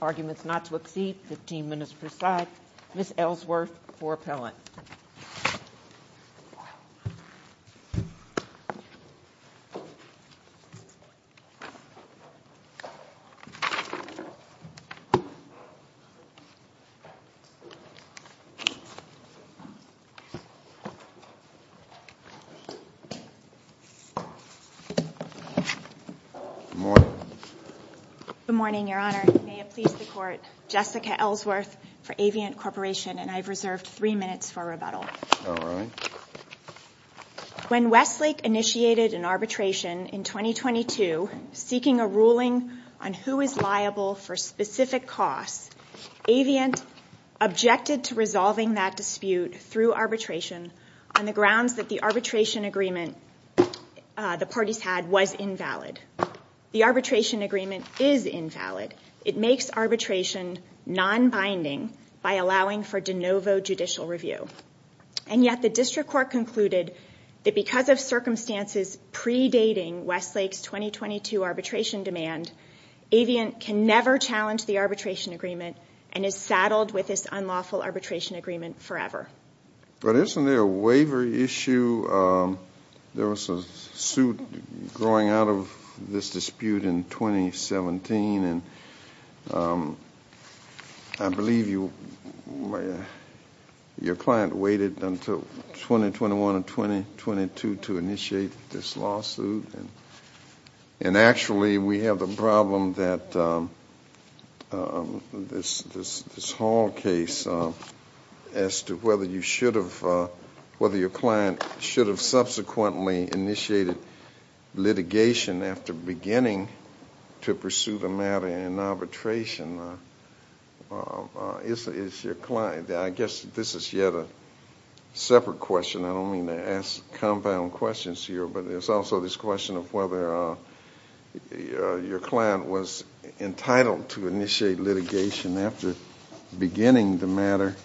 Arguments Not to Exceed, 15 minutes per side, Ms. Ellsworth for appellant. Good morning, Your Honor. May it please the Court, Jessica Ellsworth for Avient Corporation, and I've reserved three minutes for rebuttal. When Westlake initiated an arbitration in 2022 seeking a ruling on who is liable for specific costs, Avient objected to resolving that dispute through arbitration on the grounds that the arbitration agreement the parties had was invalid. The arbitration agreement is invalid. It makes arbitration non-binding by allowing for de novo judicial review. And yet the district court concluded that because of circumstances predating Westlake's 2022 arbitration demand, Avient can never challenge the arbitration agreement and is saddled with this unlawful arbitration agreement forever. But isn't there a waiver issue? There was a suit growing out of this dispute in 2017, and I believe your client waited until 2021 and 2022 to initiate this lawsuit. And actually, we have the problem that this Hall case as to whether your client should have subsequently initiated litigation after beginning to pursue the matter in arbitration. I guess this is yet a separate question. I don't mean to ask compound questions here, but there's also this question of whether your client was entitled to initiate litigation after beginning the matter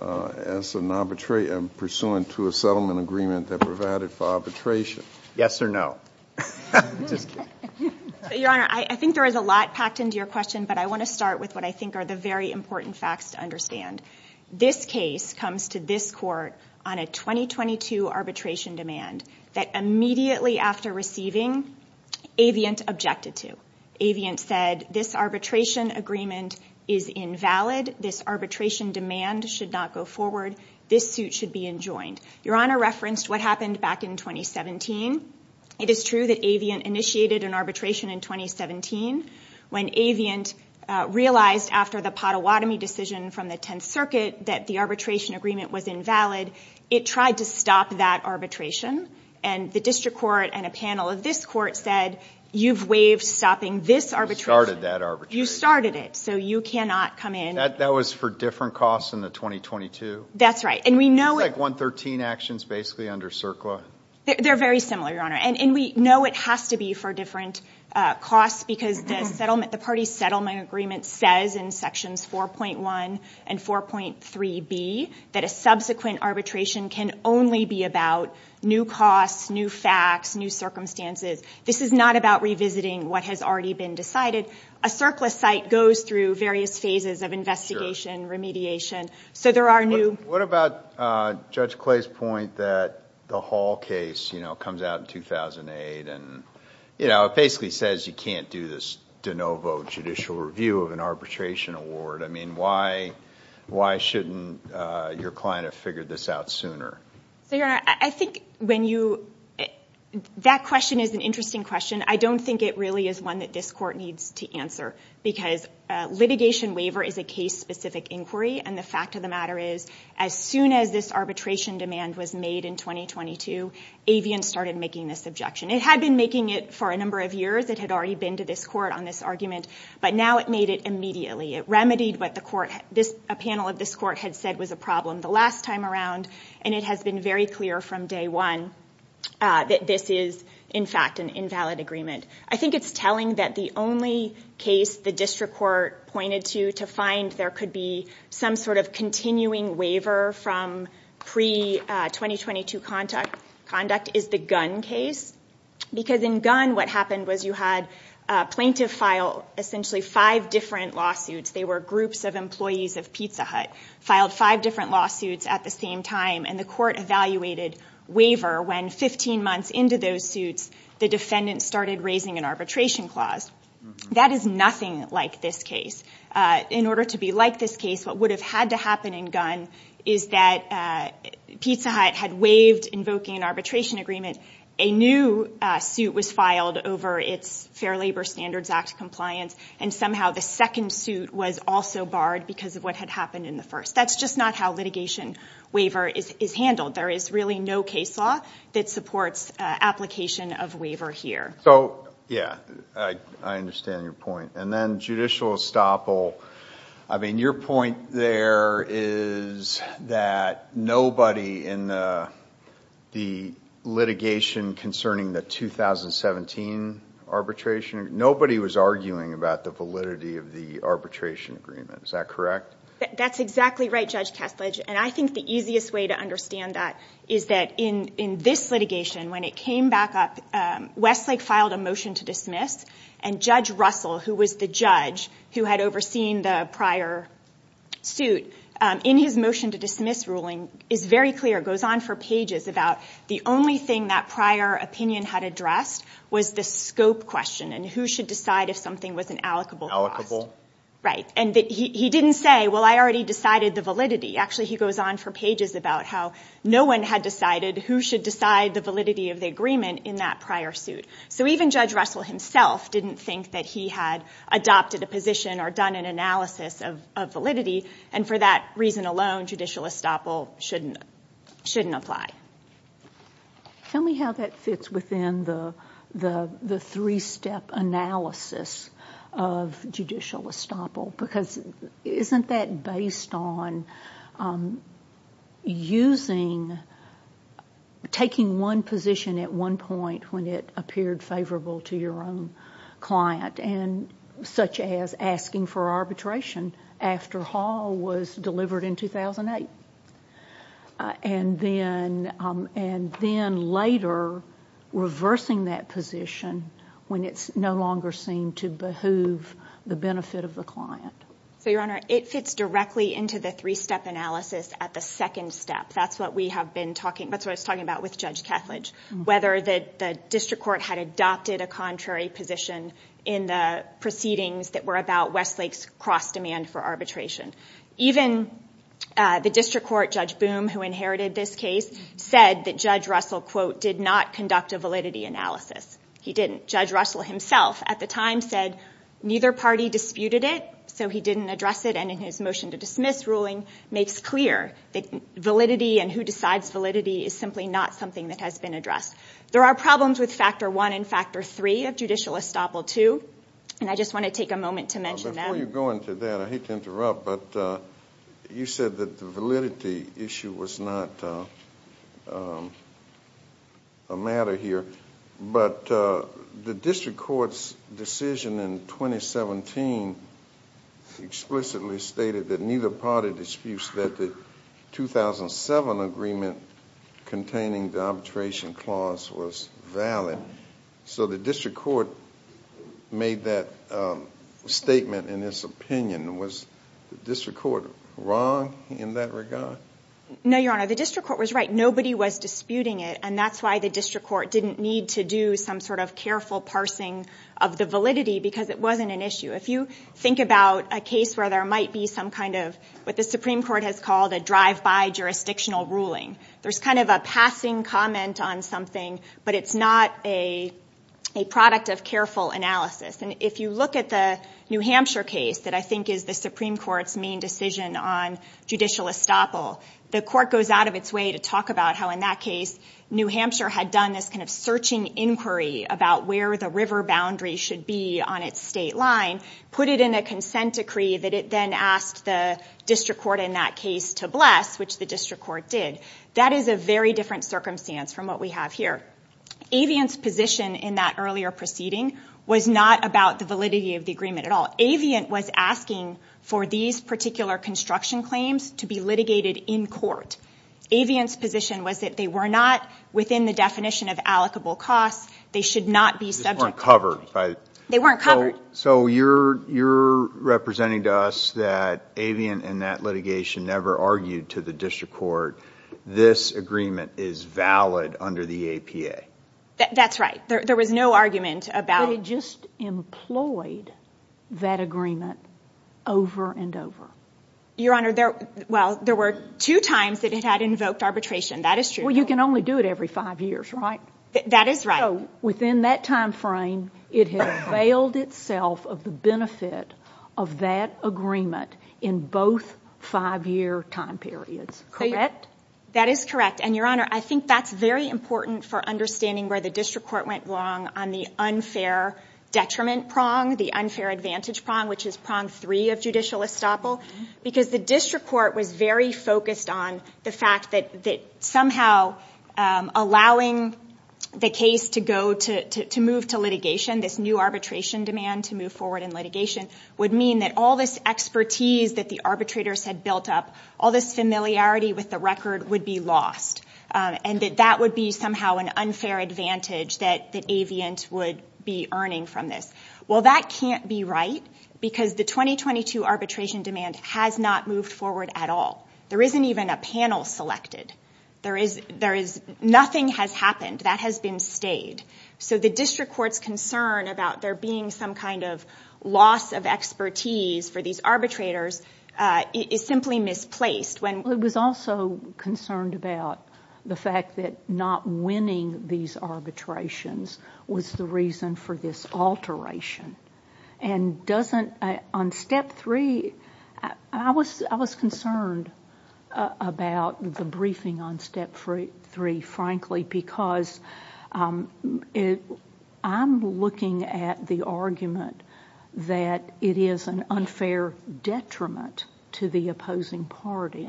as an arbitrator pursuant to a settlement agreement that provided for arbitration. Yes or no? Your Honor, I think there is a lot packed into your question, but I want to start with what I think are the very important facts to understand. This case comes to this court on a 2022 arbitration demand that immediately after receiving, Avient objected to. Avient said this arbitration agreement is invalid. This arbitration demand should not go forward. This suit should be enjoined. Your Honor referenced what happened back in 2017. It is true that Avient initiated an arbitration in 2017. When Avient realized after the Pottawatomie decision from the Tenth Circuit that the arbitration agreement was invalid, it tried to stop that arbitration. And the district court and a panel of this court said, you've waived stopping this arbitration. You started that arbitration. You started it, so you cannot come in. That was for different costs in the 2022? That's right. It's like 113 actions basically under CERCLA. They're very similar, Your Honor. And we know it has to be for different costs because the party settlement agreement says in sections 4.1 and 4.3b that a subsequent arbitration can only be about new costs, new facts, new circumstances. This is not about revisiting what has already been decided. A CERCLA site goes through various phases of investigation, remediation. What about Judge Clay's point that the Hall case comes out in 2008. It basically says you can't do this de novo judicial review of an arbitration award. Why shouldn't your client have figured this out sooner? That question is an interesting question. I don't think it really is one that this court needs to answer because litigation waiver is a case-specific inquiry, and the fact of the matter is as soon as this arbitration demand was made in 2022, Avian started making this objection. It had been making it for a number of years. It had already been to this court on this argument, but now it made it immediately. It remedied what a panel of this court had said was a problem the last time around, and it has been very clear from day one that this is, in fact, an invalid agreement. I think it's telling that the only case the district court pointed to to find there could be some sort of continuing waiver from pre-2022 conduct is the Gunn case because in Gunn what happened was you had a plaintiff file essentially five different lawsuits. They were groups of employees of Pizza Hut, filed five different lawsuits at the same time, and the court evaluated waiver when 15 months into those suits the defendant started raising an arbitration clause. That is nothing like this case. In order to be like this case, what would have had to happen in Gunn is that Pizza Hut had waived invoking an arbitration agreement. A new suit was filed over its Fair Labor Standards Act compliance, and somehow the second suit was also barred because of what had happened in the first. That's just not how litigation waiver is handled. There is really no case law that supports application of waiver here. Yeah, I understand your point. Then judicial estoppel, your point there is that nobody in the litigation concerning the 2017 arbitration, nobody was arguing about the validity of the arbitration agreement. Is that correct? That's exactly right, Judge Kessledge. I think the easiest way to understand that is that in this litigation, when it came back up, Westlake filed a motion to dismiss, and Judge Russell, who was the judge who had overseen the prior suit, in his motion to dismiss ruling is very clear, goes on for pages, about the only thing that prior opinion had addressed was the scope question and who should decide if something was an allocable cost. He didn't say, well, I already decided the validity. Actually, he goes on for pages about how no one had decided who should decide the validity of the agreement in that prior suit. So even Judge Russell himself didn't think that he had adopted a position or done an analysis of validity, and for that reason alone, judicial estoppel shouldn't apply. Tell me how that fits within the three-step analysis of judicial estoppel, because isn't that based on taking one position at one point when it appeared favorable to your own client, such as asking for arbitration after Hall was delivered in 2008, and then later reversing that position when it no longer seemed to behoove the benefit of the client? Your Honor, it fits directly into the three-step analysis at the second step. That's what I was talking about with Judge Kethledge, whether the district court had adopted a contrary position in the proceedings that were about Westlake's cross-demand for arbitration. Even the district court, Judge Boom, who inherited this case, said that Judge Russell, quote, did not conduct a validity analysis. He didn't. Judge Russell himself at the time said neither party disputed it, so he didn't address it, and in his motion to dismiss ruling, makes clear that validity and who decides validity is simply not something that has been addressed. There are problems with factor one and factor three of judicial estoppel too, and I just want to take a moment to mention them. Before you go into that, I hate to interrupt, but you said that the validity issue was not a matter here, but the district court's decision in 2017 explicitly stated that neither party disputes that the 2007 agreement containing the arbitration clause was valid. So the district court made that statement in its opinion. Was the district court wrong in that regard? No, Your Honor. The district court was right. Nobody was disputing it, and that's why the district court didn't need to do some sort of careful parsing of the validity because it wasn't an issue. If you think about a case where there might be some kind of what the Supreme Court has called a drive-by jurisdictional ruling, there's kind of a passing comment on something, but it's not a product of careful analysis. And if you look at the New Hampshire case that I think is the Supreme Court's main decision on judicial estoppel, the court goes out of its way to talk about how in that case New Hampshire had done this kind of searching inquiry about where the river boundary should be on its state line, put it in a consent decree that it then asked the district court in that case to bless, which the district court did. That is a very different circumstance from what we have here. Aviant's position in that earlier proceeding was not about the validity of the agreement at all. Aviant was asking for these particular construction claims to be litigated in court. Aviant's position was that they were not within the definition of allocable costs. They should not be subject to litigation. They weren't covered. They weren't covered. So you're representing to us that Aviant in that litigation never argued to the district court, this agreement is valid under the APA. That's right. There was no argument about it. It just employed that agreement over and over. Your Honor, there were two times that it had invoked arbitration. That is true. Well, you can only do it every five years, right? That is right. Within that time frame, it had availed itself of the benefit of that agreement in both five-year time periods. Correct? That is correct. And, Your Honor, I think that's very important for understanding where the district court went wrong on the unfair detriment prong, the unfair advantage prong, which is prong three of judicial estoppel, because the district court was very focused on the fact that somehow allowing the case to move to litigation, this new arbitration demand to move forward in litigation, would mean that all this expertise that the arbitrators had built up, all this familiarity with the record would be lost, and that that would be somehow an unfair advantage that Aviant would be earning from this. Well, that can't be right because the 2022 arbitration demand has not moved forward at all. There isn't even a panel selected. Nothing has happened. That has been stayed. So the district court's concern about there being some kind of loss of expertise for these arbitrators is simply misplaced. It was also concerned about the fact that not winning these arbitrations was the reason for this alteration. And on Step 3, I was concerned about the briefing on Step 3, frankly, because I'm looking at the argument that it is an unfair detriment to the opposing party.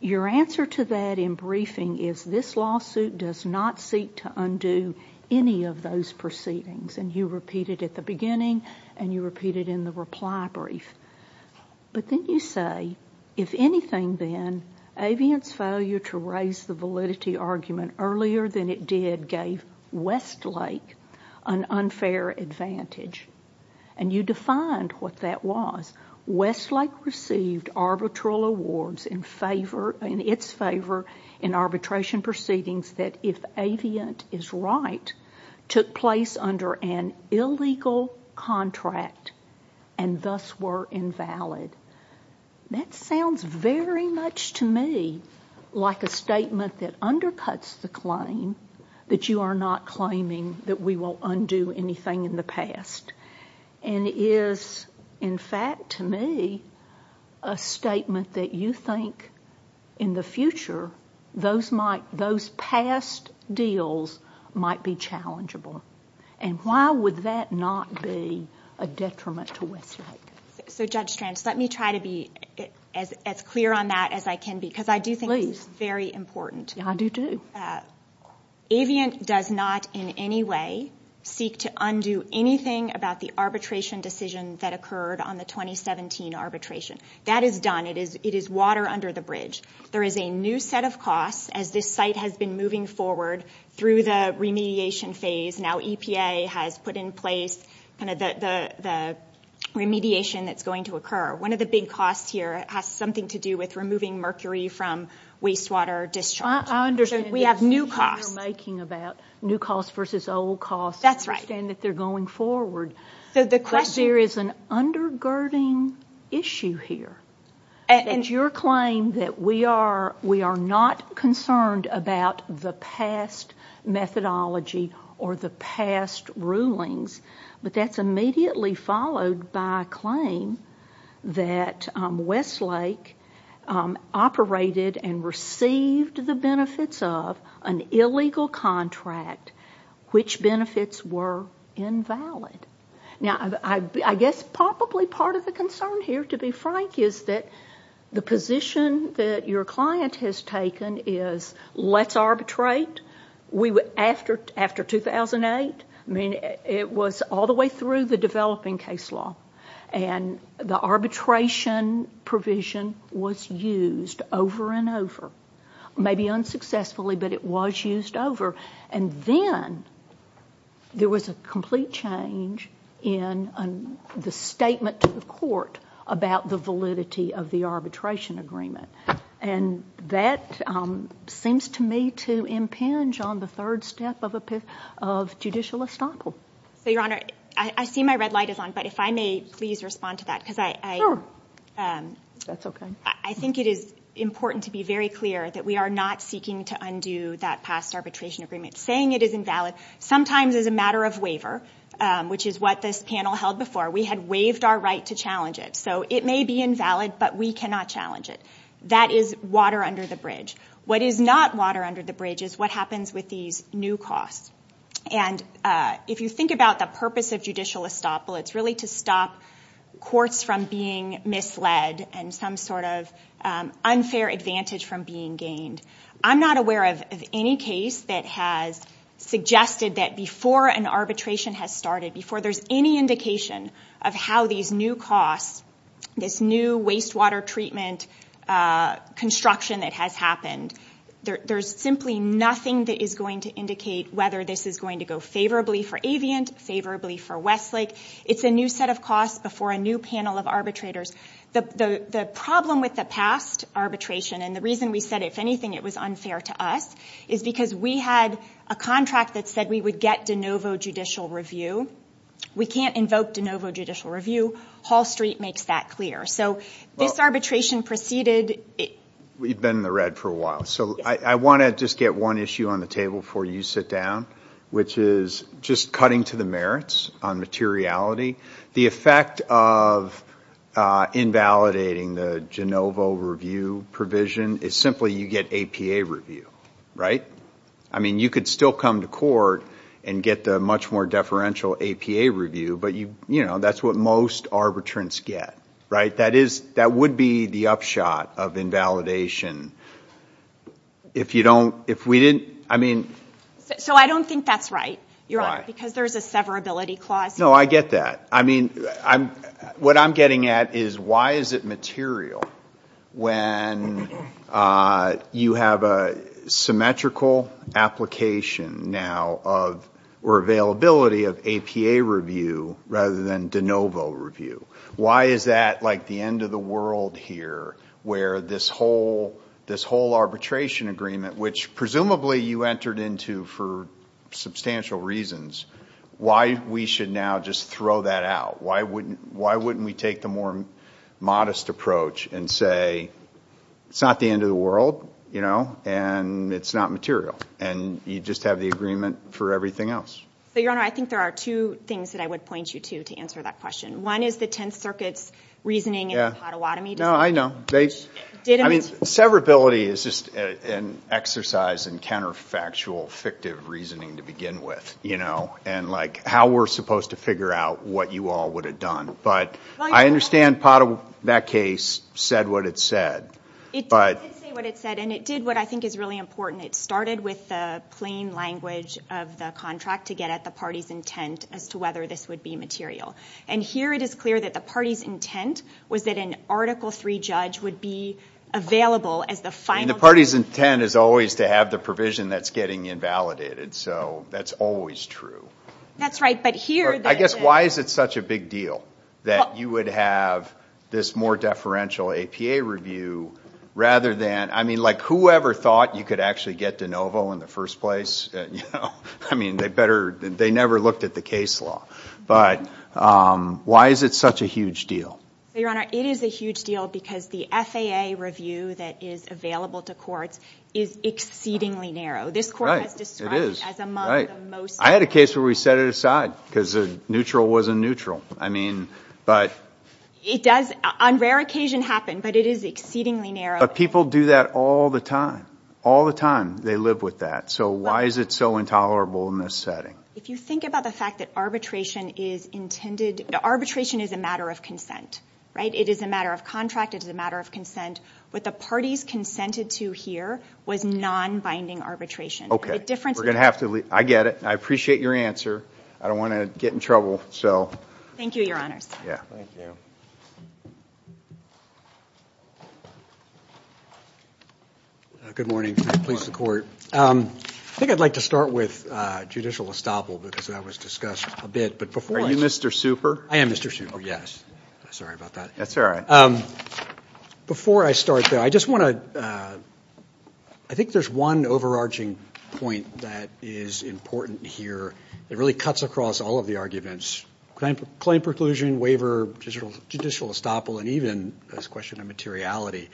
Your answer to that in briefing is this lawsuit does not seek to undo any of those proceedings, and you repeat it at the beginning and you repeat it in the reply brief. But then you say, if anything, then, earlier than it did gave Westlake an unfair advantage, and you defined what that was. Westlake received arbitral awards in its favor in arbitration proceedings that, if Aviant is right, took place under an illegal contract and thus were invalid. That sounds very much to me like a statement that undercuts the claim that you are not claiming that we will undo anything in the past and is, in fact, to me, a statement that you think, in the future, those past deals might be challengeable. And why would that not be a detriment to Westlake? So, Judge Strantz, let me try to be as clear on that as I can be, because I do think it's very important. Yeah, I do, too. Aviant does not in any way seek to undo anything about the arbitration decision that occurred on the 2017 arbitration. That is done. It is water under the bridge. There is a new set of costs as this site has been moving forward through the remediation phase. Now EPA has put in place kind of the remediation that's going to occur. One of the big costs here has something to do with removing mercury from wastewater discharge. I understand that. We have new costs. The decision you're making about new costs versus old costs. That's right. I understand that they're going forward. But there is an undergirding issue here. And your claim that we are not concerned about the past methodology or the past rulings, but that's immediately followed by a claim that Westlake operated and received the benefits of an illegal contract, which benefits were invalid. Now, I guess probably part of the concern here, to be frank, is that the position that your client has taken is let's arbitrate after 2008. I mean, it was all the way through the developing case law. And the arbitration provision was used over and over. Maybe unsuccessfully, but it was used over. And then there was a complete change in the statement to the court about the validity of the arbitration agreement. And that seems to me to impinge on the third step of judicial estoppel. So, Your Honor, I see my red light is on, but if I may please respond to that. Sure. That's okay. I think it is important to be very clear that we are not seeking to undo that past arbitration agreement. Saying it is invalid sometimes is a matter of waiver, which is what this panel held before. We had waived our right to challenge it. So it may be invalid, but we cannot challenge it. That is water under the bridge. What is not water under the bridge is what happens with these new costs. And if you think about the purpose of judicial estoppel, it's really to stop courts from being misled and some sort of unfair advantage from being gained. I'm not aware of any case that has suggested that before an arbitration has started, before there's any indication of how these new costs, this new wastewater treatment construction that has happened, there's simply nothing that is going to indicate whether this is going to go favorably for Aviant, favorably for Westlake. It's a new set of costs before a new panel of arbitrators. The problem with the past arbitration, and the reason we said, if anything, it was unfair to us, is because we had a contract that said we would get de novo judicial review. We can't invoke de novo judicial review. Hall Street makes that clear. So this arbitration preceded it. We've been in the red for a while. So I want to just get one issue on the table before you sit down, which is just cutting to the merits on materiality. The effect of invalidating the de novo review provision is simply you get APA review, right? I mean, you could still come to court and get the much more deferential APA review, but that's what most arbitrants get, right? That would be the upshot of invalidation if you don't, if we didn't, I mean. So I don't think that's right, Your Honor, because there's a severability clause. No, I get that. I mean, what I'm getting at is why is it material when you have a symmetrical application now or availability of APA review rather than de novo review? Why is that like the end of the world here where this whole arbitration agreement, which presumably you entered into for substantial reasons, why we should now just throw that out? Why wouldn't we take the more modest approach and say it's not the end of the world, you know, and it's not material and you just have the agreement for everything else? So, Your Honor, I think there are two things that I would point you to to answer that question. One is the Tenth Circuit's reasoning in the Pottawatomie decision. No, I know. I mean, severability is just an exercise in counterfactual, fictive reasoning to begin with, you know, and like how we're supposed to figure out what you all would have done. But I understand that case said what it said. It did say what it said, and it did what I think is really important. It started with the plain language of the contract to get at the party's intent as to whether this would be material. And here it is clear that the party's intent was that an Article III judge would be available as the final judge. I mean, the party's intent is always to have the provision that's getting invalidated, so that's always true. That's right. I guess why is it such a big deal that you would have this more deferential APA review rather than, I mean, like whoever thought you could actually get de novo in the first place? I mean, they never looked at the case law. But why is it such a huge deal? Your Honor, it is a huge deal because the FAA review that is available to courts is exceedingly narrow. This court has described it as among the most narrow. I had a case where we set it aside because neutral wasn't neutral. I mean, but. It does on rare occasion happen, but it is exceedingly narrow. But people do that all the time. All the time they live with that. So why is it so intolerable in this setting? If you think about the fact that arbitration is intended, arbitration is a matter of consent. Right? It is a matter of contract. It is a matter of consent. What the parties consented to here was non-binding arbitration. We're going to have to leave. I get it. I appreciate your answer. I don't want to get in trouble, so. Thank you, Your Honors. Yeah. Thank you. Good morning. Please support. I think I'd like to start with judicial estoppel because that was discussed a bit. Are you Mr. Super? I am Mr. Super. Sorry about that. That's all right. Before I start, though, I just want to, I think there's one overarching point that is important here. It really cuts across all of the arguments. Claim preclusion, waiver, judicial estoppel, and even this question of materiality.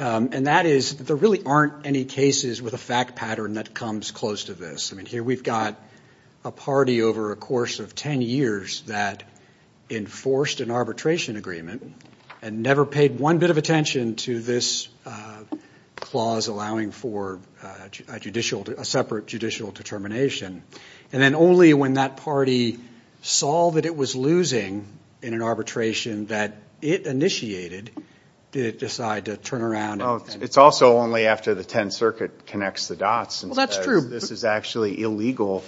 And that is there really aren't any cases with a fact pattern that comes close to this. I mean, here we've got a party over a course of ten years that enforced an arbitration agreement and never paid one bit of attention to this clause allowing for a separate judicial determination. And then only when that party saw that it was losing in an arbitration that it initiated did it decide to turn around. It's also only after the Tenth Circuit connects the dots. Well, that's true. This is actually illegal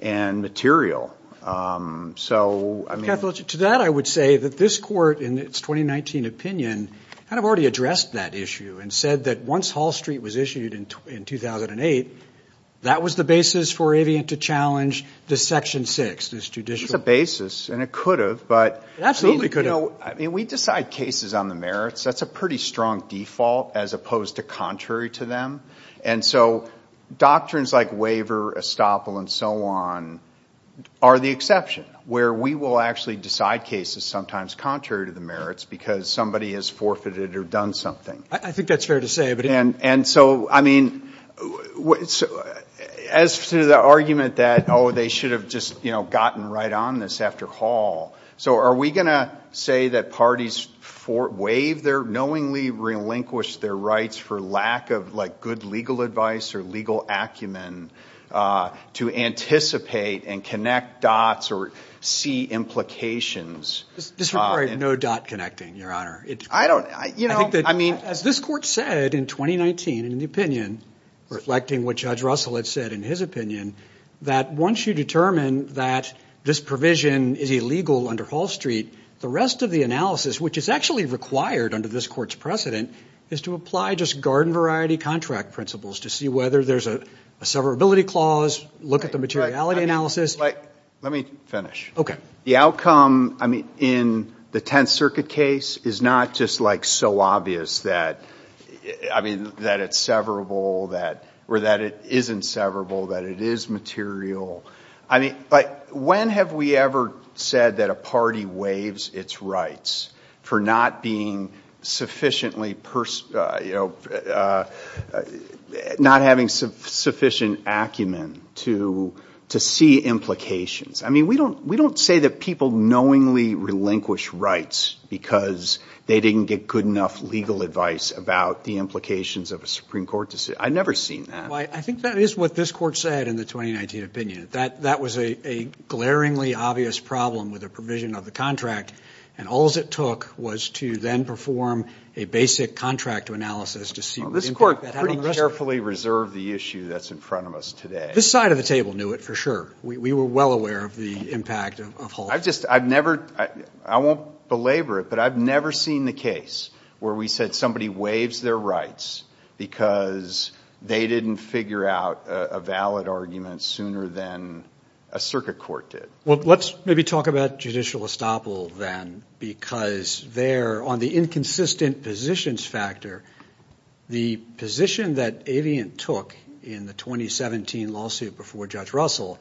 and material. So, I mean. To that, I would say that this court in its 2019 opinion kind of already addressed that issue and said that once Hall Street was issued in 2008, that was the basis for Avian to challenge this Section 6, this judicial. It's a basis, and it could have, but. It absolutely could have. You know, I mean, we decide cases on the merits. That's a pretty strong default as opposed to contrary to them. And so doctrines like waiver, estoppel, and so on are the exception where we will actually decide cases sometimes contrary to the merits because somebody has forfeited or done something. I think that's fair to say. And so, I mean, as to the argument that, oh, they should have just, you know, gotten right on this after Hall. So, are we going to say that parties waive their, knowingly relinquish their rights for lack of like good legal advice or legal acumen to anticipate and connect dots or see implications? This would require no dot connecting, Your Honor. I don't, you know, I mean. As this court said in 2019 in the opinion, reflecting what Judge Russell had said in his opinion, that once you determine that this provision is illegal under Hall Street, the rest of the analysis, which is actually required under this court's precedent, is to apply just garden variety contract principles to see whether there's a severability clause, look at the materiality analysis. Let me finish. Okay. The outcome, I mean, in the Tenth Circuit case is not just like so obvious that, I mean, that it's severable, or that it isn't severable, that it is material. I mean, but when have we ever said that a party waives its rights for not being sufficiently, you know, not having sufficient acumen to see implications? I mean, we don't say that people knowingly relinquish rights because they didn't get good enough legal advice about the implications of a Supreme Court decision. I've never seen that. Well, I think that is what this court said in the 2019 opinion. That was a glaringly obvious problem with the provision of the contract, and all it took was to then perform a basic contract analysis to see what impact that had on the rest of it. Well, this court pretty carefully reserved the issue that's in front of us today. This side of the table knew it for sure. We were well aware of the impact of Hall. I've just, I've never, I won't belabor it, but I've never seen the case where we said somebody waives their rights because they didn't figure out a valid argument sooner than a circuit court did. Well, let's maybe talk about judicial estoppel then, because there, on the inconsistent positions factor, the position that Aviant took in the 2017 lawsuit before Judge Russell,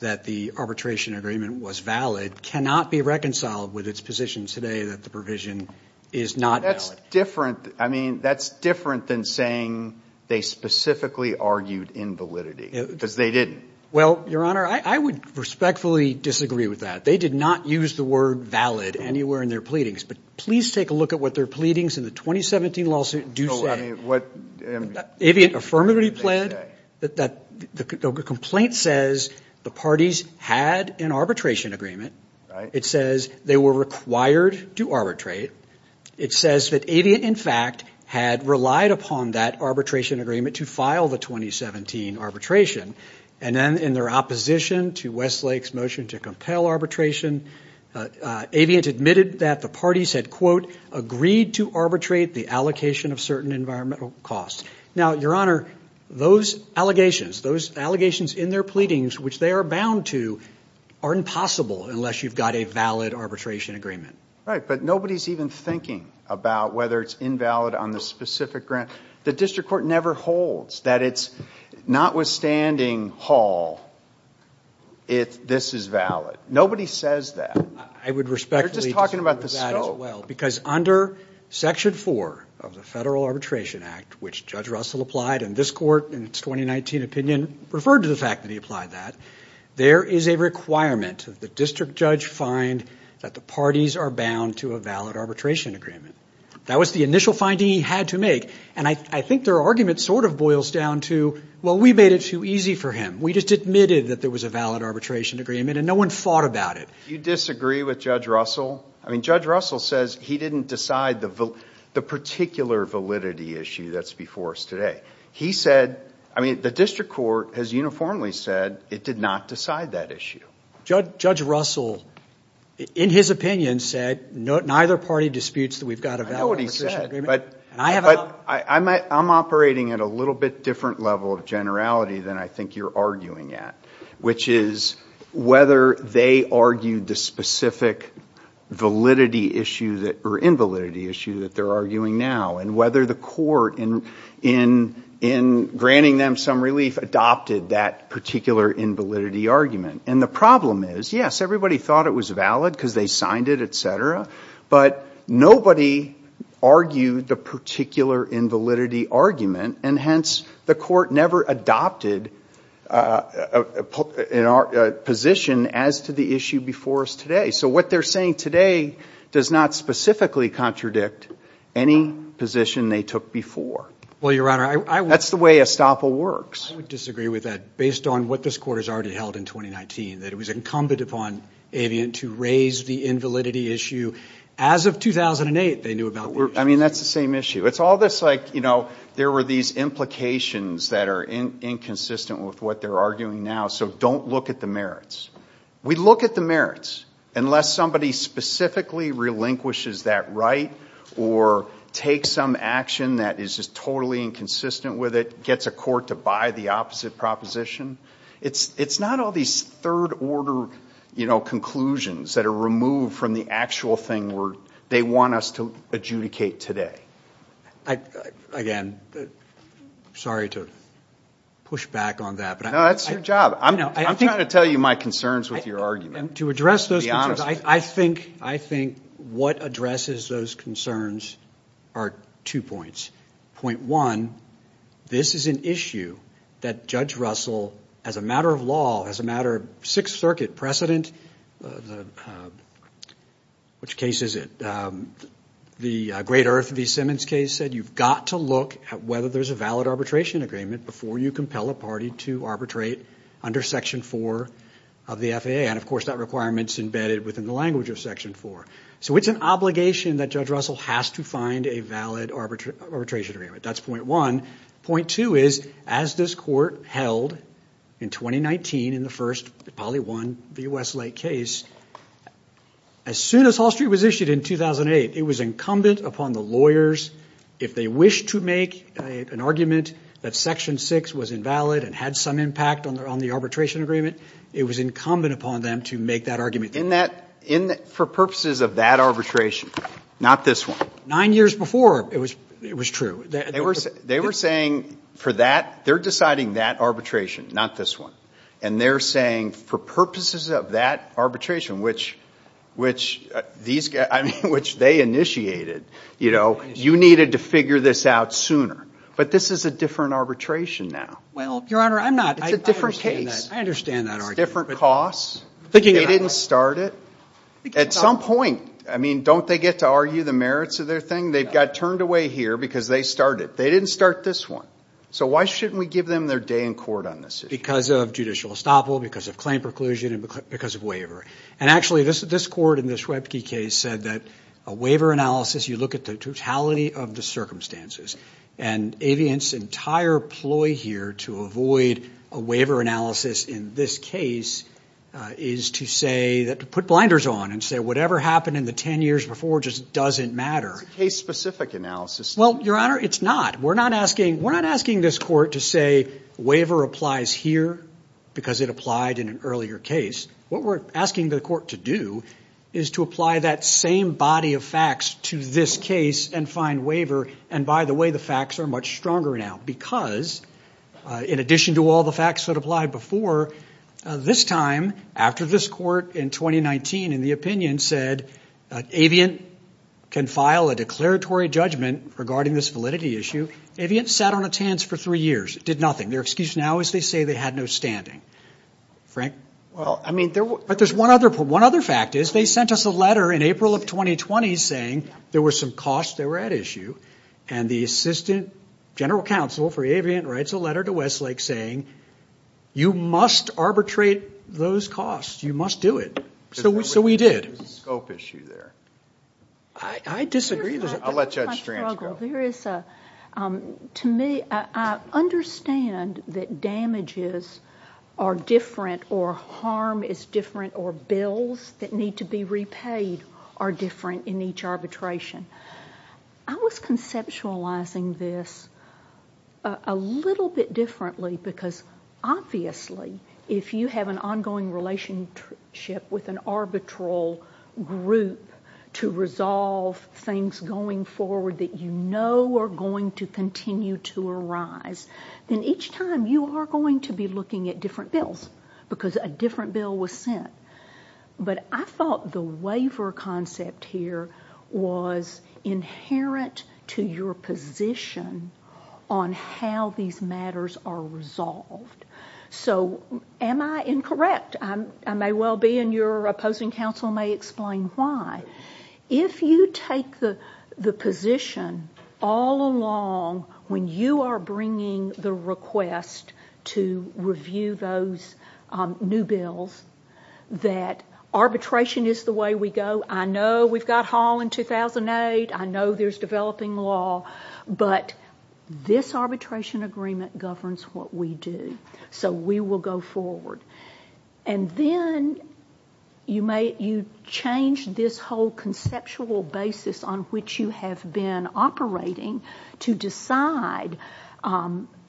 that the arbitration agreement was valid cannot be reconciled with its position today that the provision is not valid. That's different. I mean, that's different than saying they specifically argued invalidity, because they didn't. Well, Your Honor, I would respectfully disagree with that. They did not use the word valid anywhere in their pleadings, but please take a look at what their pleadings in the 2017 lawsuit do say. So, I mean, what did they say? The complaint says the parties had an arbitration agreement. It says they were required to arbitrate. It says that Aviant, in fact, had relied upon that arbitration agreement to file the 2017 arbitration. And then in their opposition to Westlake's motion to compel arbitration, Aviant admitted that the parties had, quote, agreed to arbitrate the allocation of certain environmental costs. Now, Your Honor, those allegations, those allegations in their pleadings, which they are bound to, are impossible unless you've got a valid arbitration agreement. Right, but nobody's even thinking about whether it's invalid on the specific grant. The district court never holds that it's notwithstanding Hall, this is valid. Nobody says that. I would respectfully disagree with that as well, because under Section 4 of the Federal Arbitration Act, which Judge Russell applied in this court in its 2019 opinion, referred to the fact that he applied that, there is a requirement that the district judge find that the parties are bound to a valid arbitration agreement. That was the initial finding he had to make, and I think their argument sort of boils down to, well, we made it too easy for him. We just admitted that there was a valid arbitration agreement and no one fought about it. Do you disagree with Judge Russell? I mean, Judge Russell says he didn't decide the particular validity issue that's before us today. He said, I mean, the district court has uniformly said it did not decide that issue. Judge Russell, in his opinion, said neither party disputes that we've got a valid arbitration agreement. I know what he said, but I'm operating at a little bit different level of generality than I think you're arguing at, which is whether they argued the specific validity issue or invalidity issue that they're arguing now, and whether the court, in granting them some relief, adopted that particular invalidity argument. And the problem is, yes, everybody thought it was valid because they signed it, et cetera, but nobody argued the particular invalidity argument, and hence the court never adopted a position as to the issue before us today. So what they're saying today does not specifically contradict any position they took before. Well, Your Honor, I would – That's the way estoppel works. I would disagree with that based on what this court has already held in 2019, that it was incumbent upon Avian to raise the invalidity issue. As of 2008, they knew about the issue. I mean, that's the same issue. It's all this, like, you know, there were these implications that are inconsistent with what they're arguing now, so don't look at the merits. We look at the merits unless somebody specifically relinquishes that right or takes some action that is just totally inconsistent with it, gets a court to buy the opposite proposition. It's not all these third-order conclusions that are removed from the actual thing they want us to adjudicate today. Again, sorry to push back on that. No, that's your job. I'm trying to tell you my concerns with your argument. To address those concerns, I think what addresses those concerns are two points. Point one, this is an issue that Judge Russell, as a matter of law, as a matter of Sixth Circuit precedent, which case is it, the Great Earth v. Simmons case said you've got to look at whether there's a valid arbitration agreement before you compel a party to arbitrate under Section 4 of the FAA. And, of course, that requirement's embedded within the language of Section 4. So it's an obligation that Judge Russell has to find a valid arbitration agreement. That's point one. Point two is, as this court held in 2019 in the first, probably one, v. Westlake case, as soon as Hall Street was issued in 2008, it was incumbent upon the lawyers, if they wished to make an argument that Section 6 was invalid and had some impact on the arbitration agreement, it was incumbent upon them to make that argument. In that, for purposes of that arbitration, not this one. Nine years before it was true. They were saying for that, they're deciding that arbitration, not this one. And they're saying for purposes of that arbitration, which these guys, I mean, which they initiated, you know, you needed to figure this out sooner. But this is a different arbitration now. Well, Your Honor, I'm not. It's a different case. I understand that argument. It's different costs. They didn't start it. At some point, I mean, don't they get to argue the merits of their thing? They got turned away here because they started it. They didn't start this one. So why shouldn't we give them their day in court on this issue? Because of judicial estoppel, because of claim preclusion, and because of waiver. And actually, this court in the Schwebge case said that a waiver analysis, you look at the totality of the circumstances. And Aviant's entire ploy here to avoid a waiver analysis in this case is to say, to put blinders on and say whatever happened in the ten years before just doesn't matter. It's a case-specific analysis. Well, Your Honor, it's not. We're not asking this court to say waiver applies here because it applied in an earlier case. What we're asking the court to do is to apply that same body of facts to this case and find waiver. And, by the way, the facts are much stronger now because, in addition to all the facts that applied before, this time, after this court in 2019, in the opinion, said Aviant can file a declaratory judgment regarding this validity issue, Aviant sat on its hands for three years. It did nothing. Their excuse now is they say they had no standing. Frank? But one other fact is they sent us a letter in April of 2020 saying there were some costs that were at issue. And the assistant general counsel for Aviant writes a letter to Westlake saying, you must arbitrate those costs. You must do it. So we did. There's a scope issue there. I disagree. I'll let Judge Stranz go. To me, I understand that damages are different or harm is different or bills that need to be repaid are different in each arbitration. I was conceptualizing this a little bit differently because, obviously, if you have an ongoing relationship with an arbitral group to resolve things going forward that you know are going to continue to arise, then each time you are going to be looking at different bills because a different bill was sent. But I thought the waiver concept here was inherent to your position on how these matters are resolved. So am I incorrect? I may well be, and your opposing counsel may explain why. If you take the position all along when you are bringing the request to review those new bills that arbitration is the way we go, I know we've got Hall in 2008, I know there's developing law, but this arbitration agreement governs what we do, so we will go forward. And then you change this whole conceptual basis on which you have been operating to decide.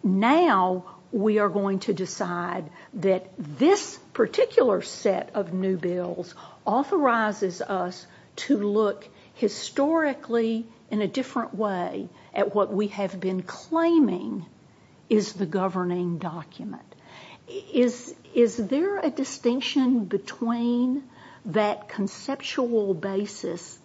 Now we are going to decide that this particular set of new bills authorizes us to look historically in a different way at what we have been claiming is the governing document. Is there a distinction between that conceptual basis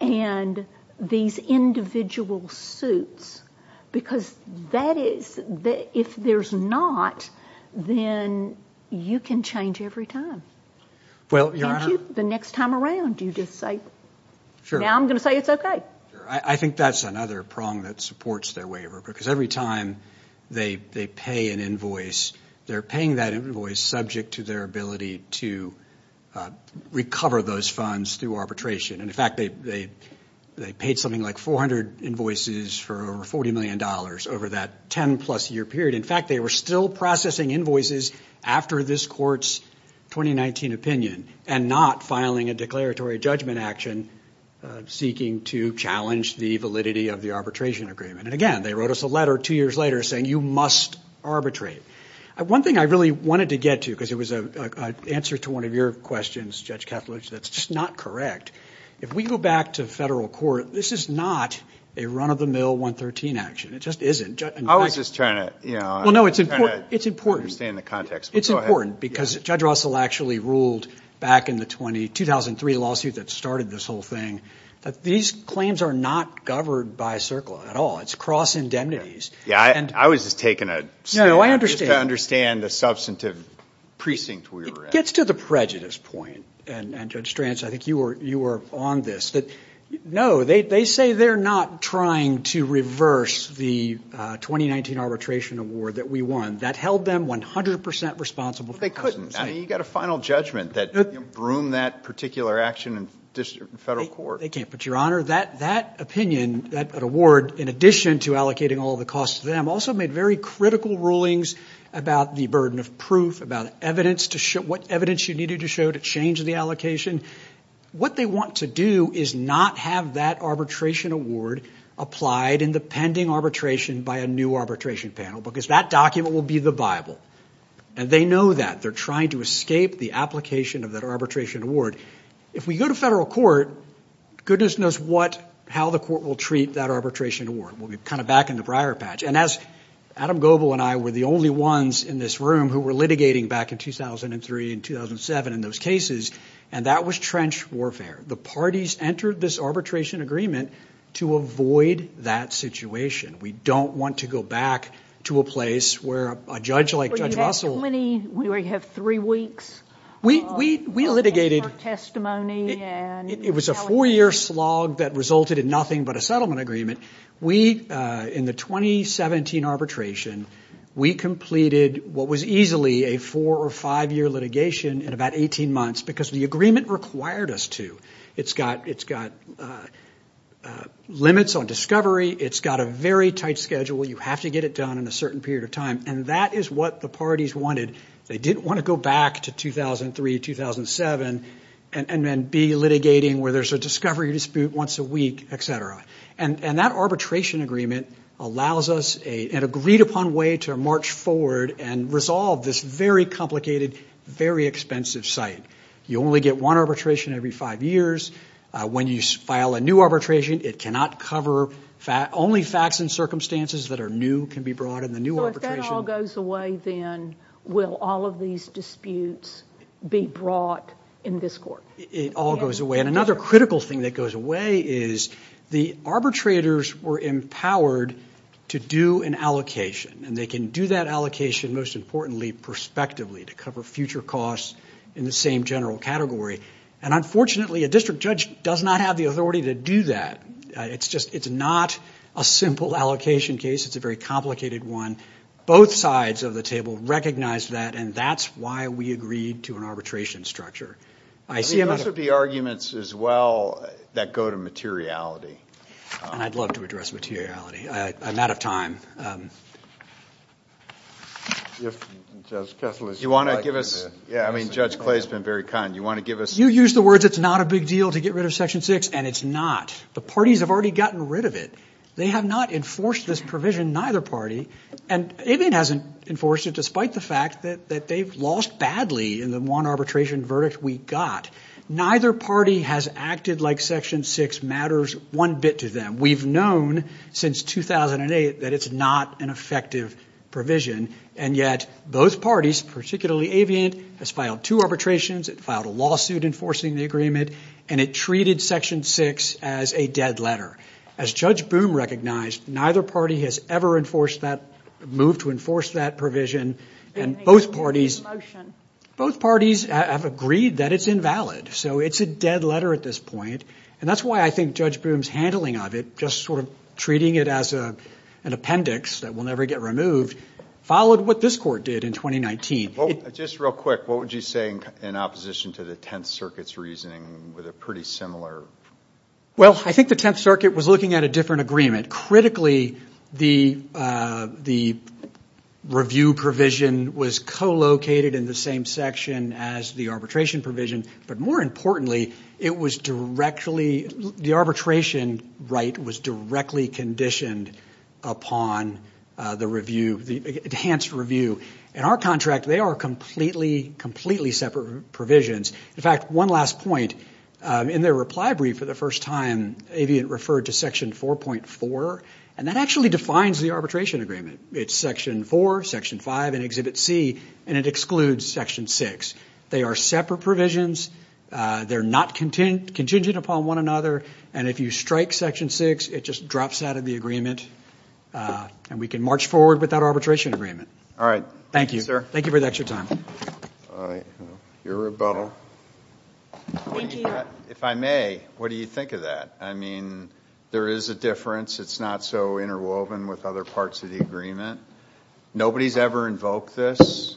and these individual suits? Because if there's not, then you can change every time. Well, Your Honor. Can't you? The next time around you just say, now I'm going to say it's okay. I think that's another prong that supports their waiver, because every time they pay an invoice, they're paying that invoice subject to their ability to recover those funds through arbitration. In fact, they paid something like 400 invoices for over $40 million over that 10-plus year period. In fact, they were still processing invoices after this Court's 2019 opinion and not filing a declaratory judgment action seeking to challenge the validity of the arbitration agreement. And again, they wrote us a letter two years later saying you must arbitrate. One thing I really wanted to get to, because it was an answer to one of your questions, Judge Kattelidge, that's just not correct. If we go back to federal court, this is not a run-of-the-mill 113 action. It just isn't. I was just trying to understand the context. It's important, because Judge Russell actually ruled back in the 2003 lawsuit that started this whole thing that these claims are not governed by CERCLA at all. It's cross-indemnities. Yeah, I was just taking a stab. No, I understand. Just to understand the substantive precinct we were in. It gets to the prejudice point, and Judge Stranz, I think you were on this, that no, they say they're not trying to reverse the 2019 arbitration award that we won. That held them 100% responsible. But they couldn't. I mean, you've got a final judgment that broomed that particular action in federal court. They can't, but, Your Honor, that opinion, that award, in addition to allocating all the costs to them, also made very critical rulings about the burden of proof, about what evidence you needed to show to change the allocation. What they want to do is not have that arbitration award applied in the pending arbitration by a new arbitration panel, because that document will be the Bible. And they know that. They're trying to escape the application of that arbitration award. If we go to federal court, goodness knows how the court will treat that arbitration award. We'll be kind of back in the prior patch. And as Adam Goble and I were the only ones in this room who were litigating back in 2003 and 2007 in those cases, and that was trench warfare. The parties entered this arbitration agreement to avoid that situation. We don't want to go back to a place where a judge like Judge Russell. We have three weeks. We litigated. It was a four-year slog that resulted in nothing but a settlement agreement. We, in the 2017 arbitration, we completed what was easily a four- or five-year litigation in about 18 months, because the agreement required us to. It's got limits on discovery. It's got a very tight schedule. You have to get it done in a certain period of time. And that is what the parties wanted. They didn't want to go back to 2003, 2007, and then be litigating where there's a discovery dispute once a week, et cetera. And that arbitration agreement allows us an agreed-upon way to march forward and resolve this very complicated, very expensive site. You only get one arbitration every five years. When you file a new arbitration, it cannot cover only facts and circumstances that are new, can be brought in the new arbitration. So if that all goes away, then will all of these disputes be brought in this court? It all goes away. And another critical thing that goes away is the arbitrators were empowered to do an allocation, and they can do that allocation, most importantly, prospectively, to cover future costs in the same general category. And unfortunately, a district judge does not have the authority to do that. It's not a simple allocation case. It's a very complicated one. Both sides of the table recognized that, and that's why we agreed to an arbitration structure. Those would be arguments as well that go to materiality. And I'd love to address materiality. I'm out of time. If Judge Kessler would like to. Yeah, I mean, Judge Clay's been very kind. You want to give us? You use the words, it's not a big deal to get rid of Section 6, and it's not. The parties have already gotten rid of it. They have not enforced this provision, neither party, and it hasn't enforced it despite the fact that they've lost badly in the one arbitration verdict we got. Neither party has acted like Section 6 matters one bit to them. We've known since 2008 that it's not an effective provision, and yet both parties, particularly Aviant, has filed two arbitrations. It filed a lawsuit enforcing the agreement, and it treated Section 6 as a dead letter. As Judge Boom recognized, neither party has ever enforced that, moved to enforce that provision, and both parties have agreed that it's invalid, so it's a dead letter at this point. And that's why I think Judge Boom's handling of it, just sort of treating it as an appendix that will never get removed, followed what this court did in 2019. Just real quick, what would you say in opposition to the Tenth Circuit's reasoning with a pretty similar? Well, I think the Tenth Circuit was looking at a different agreement. Critically, the review provision was co-located in the same section as the arbitration provision, but more importantly, the arbitration right was directly conditioned upon the enhanced review. In our contract, they are completely separate provisions. In fact, one last point, in their reply brief for the first time, Aviant referred to Section 4.4, and that actually defines the arbitration agreement. It's Section 4, Section 5, and Exhibit C, and it excludes Section 6. They are separate provisions. They're not contingent upon one another, and if you strike Section 6, it just drops out of the agreement, and we can march forward with that arbitration agreement. All right. Thank you. Thank you for the extra time. Your rebuttal. If I may, what do you think of that? I mean, there is a difference. It's not so interwoven with other parts of the agreement. Nobody's ever invoked this.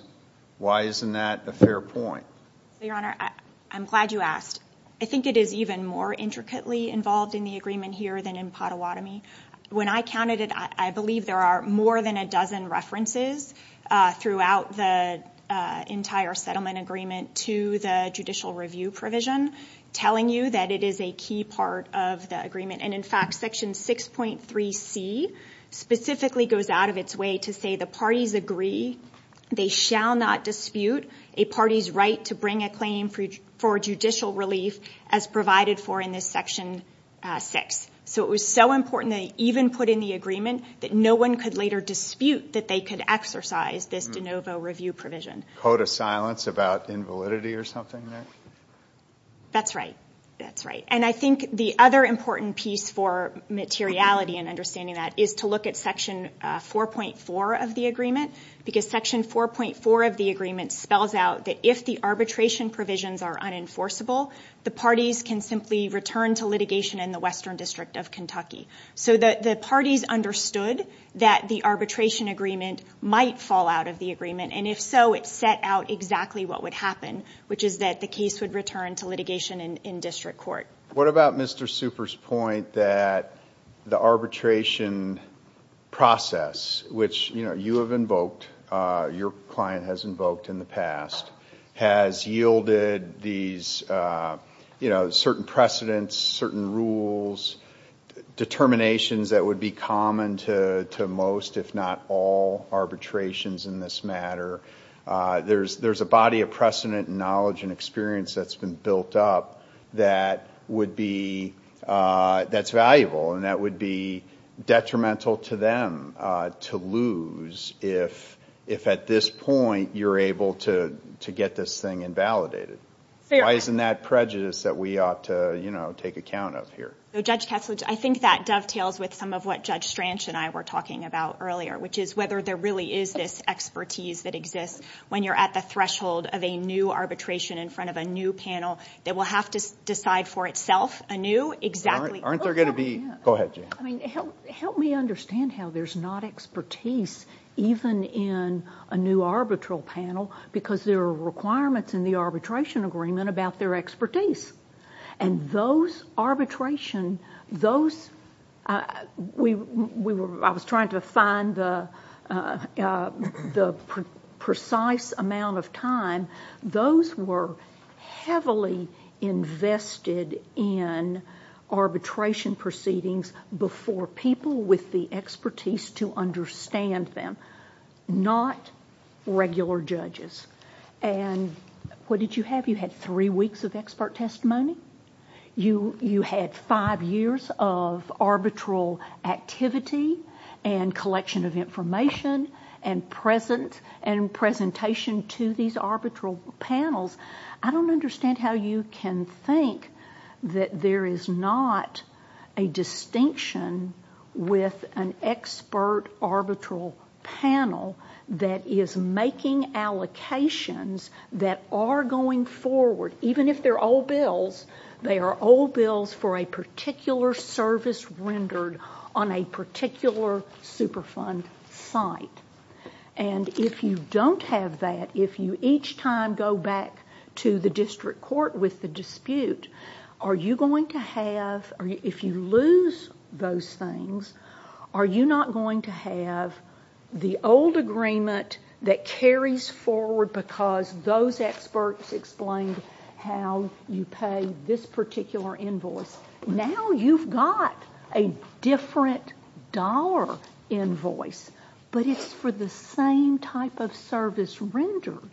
Why isn't that a fair point? Your Honor, I'm glad you asked. I think it is even more intricately involved in the agreement here than in Pottawatomie. When I counted it, I believe there are more than a dozen references throughout the entire settlement agreement to the judicial review provision telling you that it is a key part of the agreement, and in fact, Section 6.3C specifically goes out of its way to say the parties agree they shall not dispute a party's right to bring a claim for judicial relief as provided for in this Section 6. So it was so important they even put in the agreement that no one could later dispute that they could exercise this de novo review provision. Code of silence about invalidity or something there? That's right. That's right. And I think the other important piece for materiality and understanding that is to look at Section 4.4 of the agreement because Section 4.4 of the agreement spells out that if the arbitration provisions are unenforceable, the parties can simply return to litigation in the Western District of Kentucky. So the parties understood that the arbitration agreement might fall out of the agreement, and if so, it set out exactly what would happen, which is that the case would return to litigation in district court. What about Mr. Super's point that the arbitration process, which you have invoked, your client has invoked in the past, has yielded these certain precedents, certain rules, determinations that would be common to most, if not all, arbitrations in this matter. There's a body of precedent and knowledge and experience that's been built up that's valuable and that would be detrimental to them to lose if at this point you're able to get this thing invalidated. Why isn't that prejudice that we ought to take account of here? Judge Kessler, I think that dovetails with some of what Judge Stranch and I were talking about earlier, which is whether there really is this expertise that exists when you're at the threshold of a new arbitration in front of a new panel that will have to decide for itself a new, exactly— Aren't there going to be—go ahead, Jane. Help me understand how there's not expertise even in a new arbitral panel because there are requirements in the arbitration agreement about their expertise. And those arbitration—I was trying to find the precise amount of time. Those were heavily invested in arbitration proceedings before people with the expertise to understand them, not regular judges. And what did you have? You had three weeks of expert testimony. You had five years of arbitral activity and collection of information and presentation to these arbitral panels. I don't understand how you can think that there is not a distinction with an expert arbitral panel that is making allocations that are going forward. Even if they're old bills, they are old bills for a particular service rendered on a particular Superfund site. And if you don't have that, if you each time go back to the district court with the dispute, are you going to have—if you lose those things, are you not going to have the old agreement that carries forward because those experts explained how you pay this particular invoice? Now you've got a different dollar invoice, but it's for the same type of service rendered.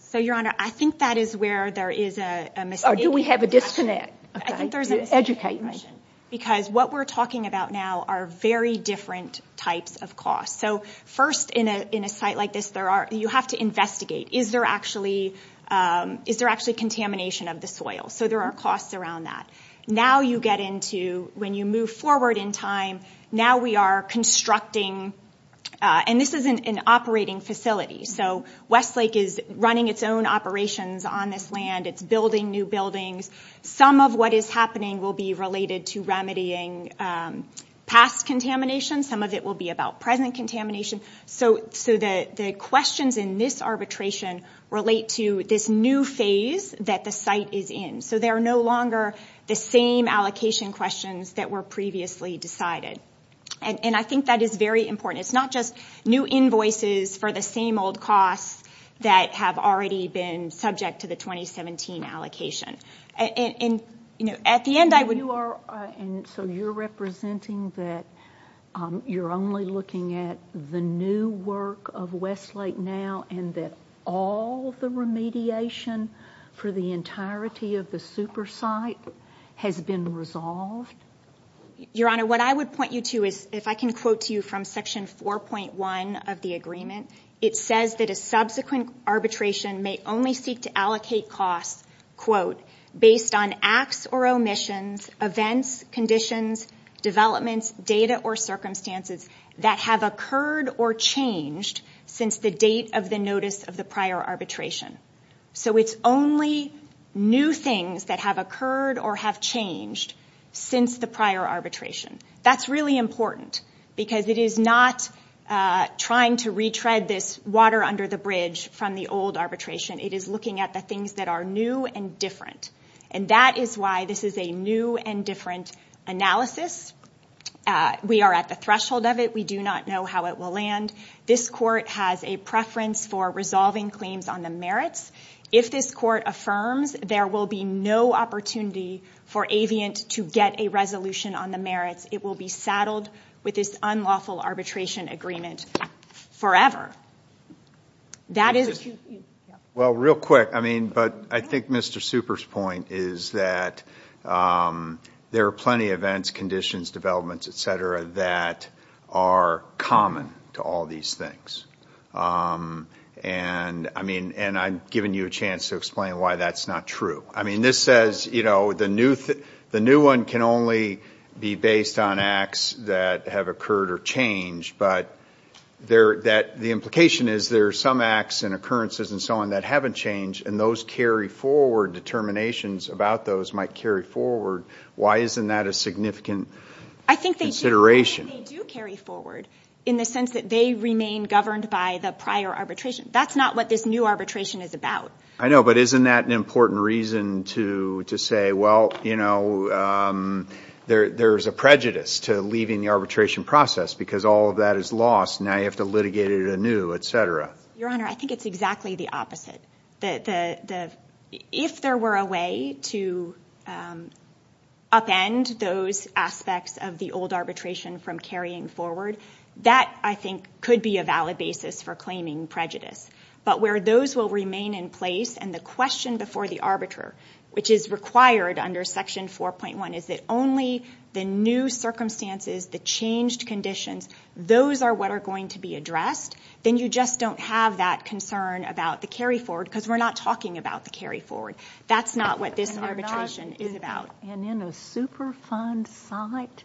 So, Your Honor, I think that is where there is a mistake. Or do we have a disconnect? Educate me. Because what we're talking about now are very different types of costs. So first, in a site like this, you have to investigate, is there actually contamination of the soil? So there are costs around that. Now you get into, when you move forward in time, now we are constructing—and this is an operating facility. So Westlake is running its own operations on this land. It's building new buildings. Some of what is happening will be related to remedying past contamination. Some of it will be about present contamination. So the questions in this arbitration relate to this new phase that the site is in. So they are no longer the same allocation questions that were previously decided. And I think that is very important. It's not just new invoices for the same old costs that have already been subject to the 2017 allocation. At the end, I would— So you're representing that you're only looking at the new work of Westlake now and that all the remediation for the entirety of the super site has been resolved? Your Honor, what I would point you to is, if I can quote to you from Section 4.1 of the agreement, it says that a subsequent arbitration may only seek to allocate costs, quote, based on acts or omissions, events, conditions, developments, data, or circumstances that have occurred or changed since the date of the notice of the prior arbitration. So it's only new things that have occurred or have changed since the prior arbitration. That's really important because it is not trying to retread this water under the bridge from the old arbitration. It is looking at the things that are new and different. And that is why this is a new and different analysis. We are at the threshold of it. We do not know how it will land. This court has a preference for resolving claims on the merits. If this court affirms, there will be no opportunity for Aviant to get a resolution on the merits. It will be saddled with this unlawful arbitration agreement forever. Well, real quick, I mean, but I think Mr. Super's point is that there are plenty of events, conditions, developments, et cetera, that are common to all these things. And I'm giving you a chance to explain why that's not true. I mean, this says the new one can only be based on acts that have occurred or changed, but the implication is there are some acts and occurrences and so on that haven't changed, and those carry forward determinations about those might carry forward. Why isn't that a significant consideration? They do carry forward in the sense that they remain governed by the prior arbitration. That's not what this new arbitration is about. I know, but isn't that an important reason to say, well, you know, there's a prejudice to leaving the arbitration process because all of that is lost, and now you have to litigate it anew, et cetera? Your Honor, I think it's exactly the opposite. If there were a way to upend those aspects of the old arbitration from carrying forward, that, I think, could be a valid basis for claiming prejudice. But where those will remain in place and the question before the arbiter, which is required under Section 4.1, is that only the new circumstances, the changed conditions, those are what are going to be addressed, then you just don't have that concern about the carry forward because we're not talking about the carry forward. That's not what this arbitration is about. And in a Superfund site,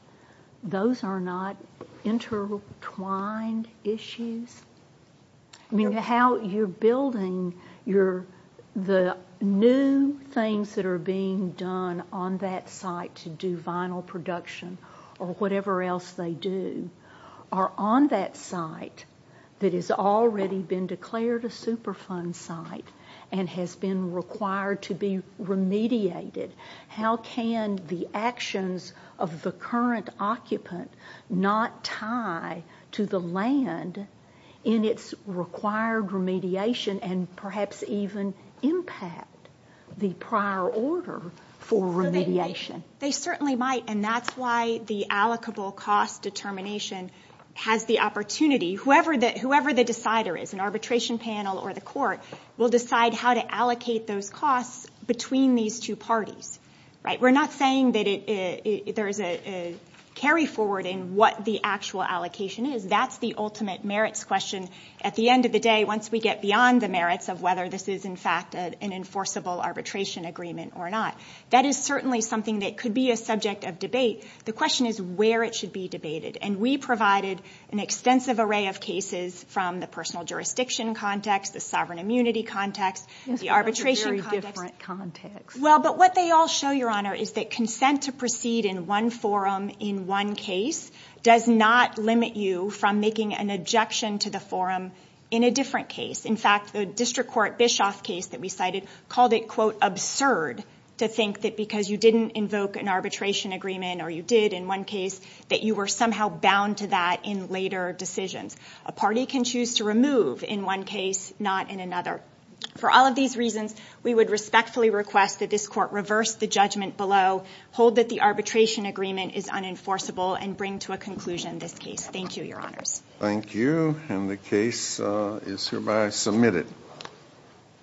those are not intertwined issues? I mean, how you're building the new things that are being done on that site to do vinyl production or whatever else they do are on that site that has already been declared a Superfund site and has been required to be remediated. How can the actions of the current occupant not tie to the land in its required remediation and perhaps even impact the prior order for remediation? They certainly might, and that's why the allocable cost determination has the opportunity. Whoever the decider is, an arbitration panel or the court, will decide how to allocate those costs between these two parties. We're not saying that there is a carry forward in what the actual allocation is. That's the ultimate merits question at the end of the day once we get beyond the merits of whether this is, in fact, an enforceable arbitration agreement or not. That is certainly something that could be a subject of debate. The question is where it should be debated. And we provided an extensive array of cases from the personal jurisdiction context, the sovereign immunity context, the arbitration context. That's a very different context. Well, but what they all show, Your Honor, is that consent to proceed in one forum in one case does not limit you from making an objection to the forum in a different case. In fact, the district court Bischoff case that we cited called it, quote, absurd to think that because you didn't invoke an arbitration agreement or you did in one case that you were somehow bound to that in later decisions. A party can choose to remove in one case, not in another. For all of these reasons, we would respectfully request that this court reverse the judgment below, hold that the arbitration agreement is unenforceable, and bring to a conclusion this case. Thank you, Your Honors. Thank you. And the case is hereby submitted.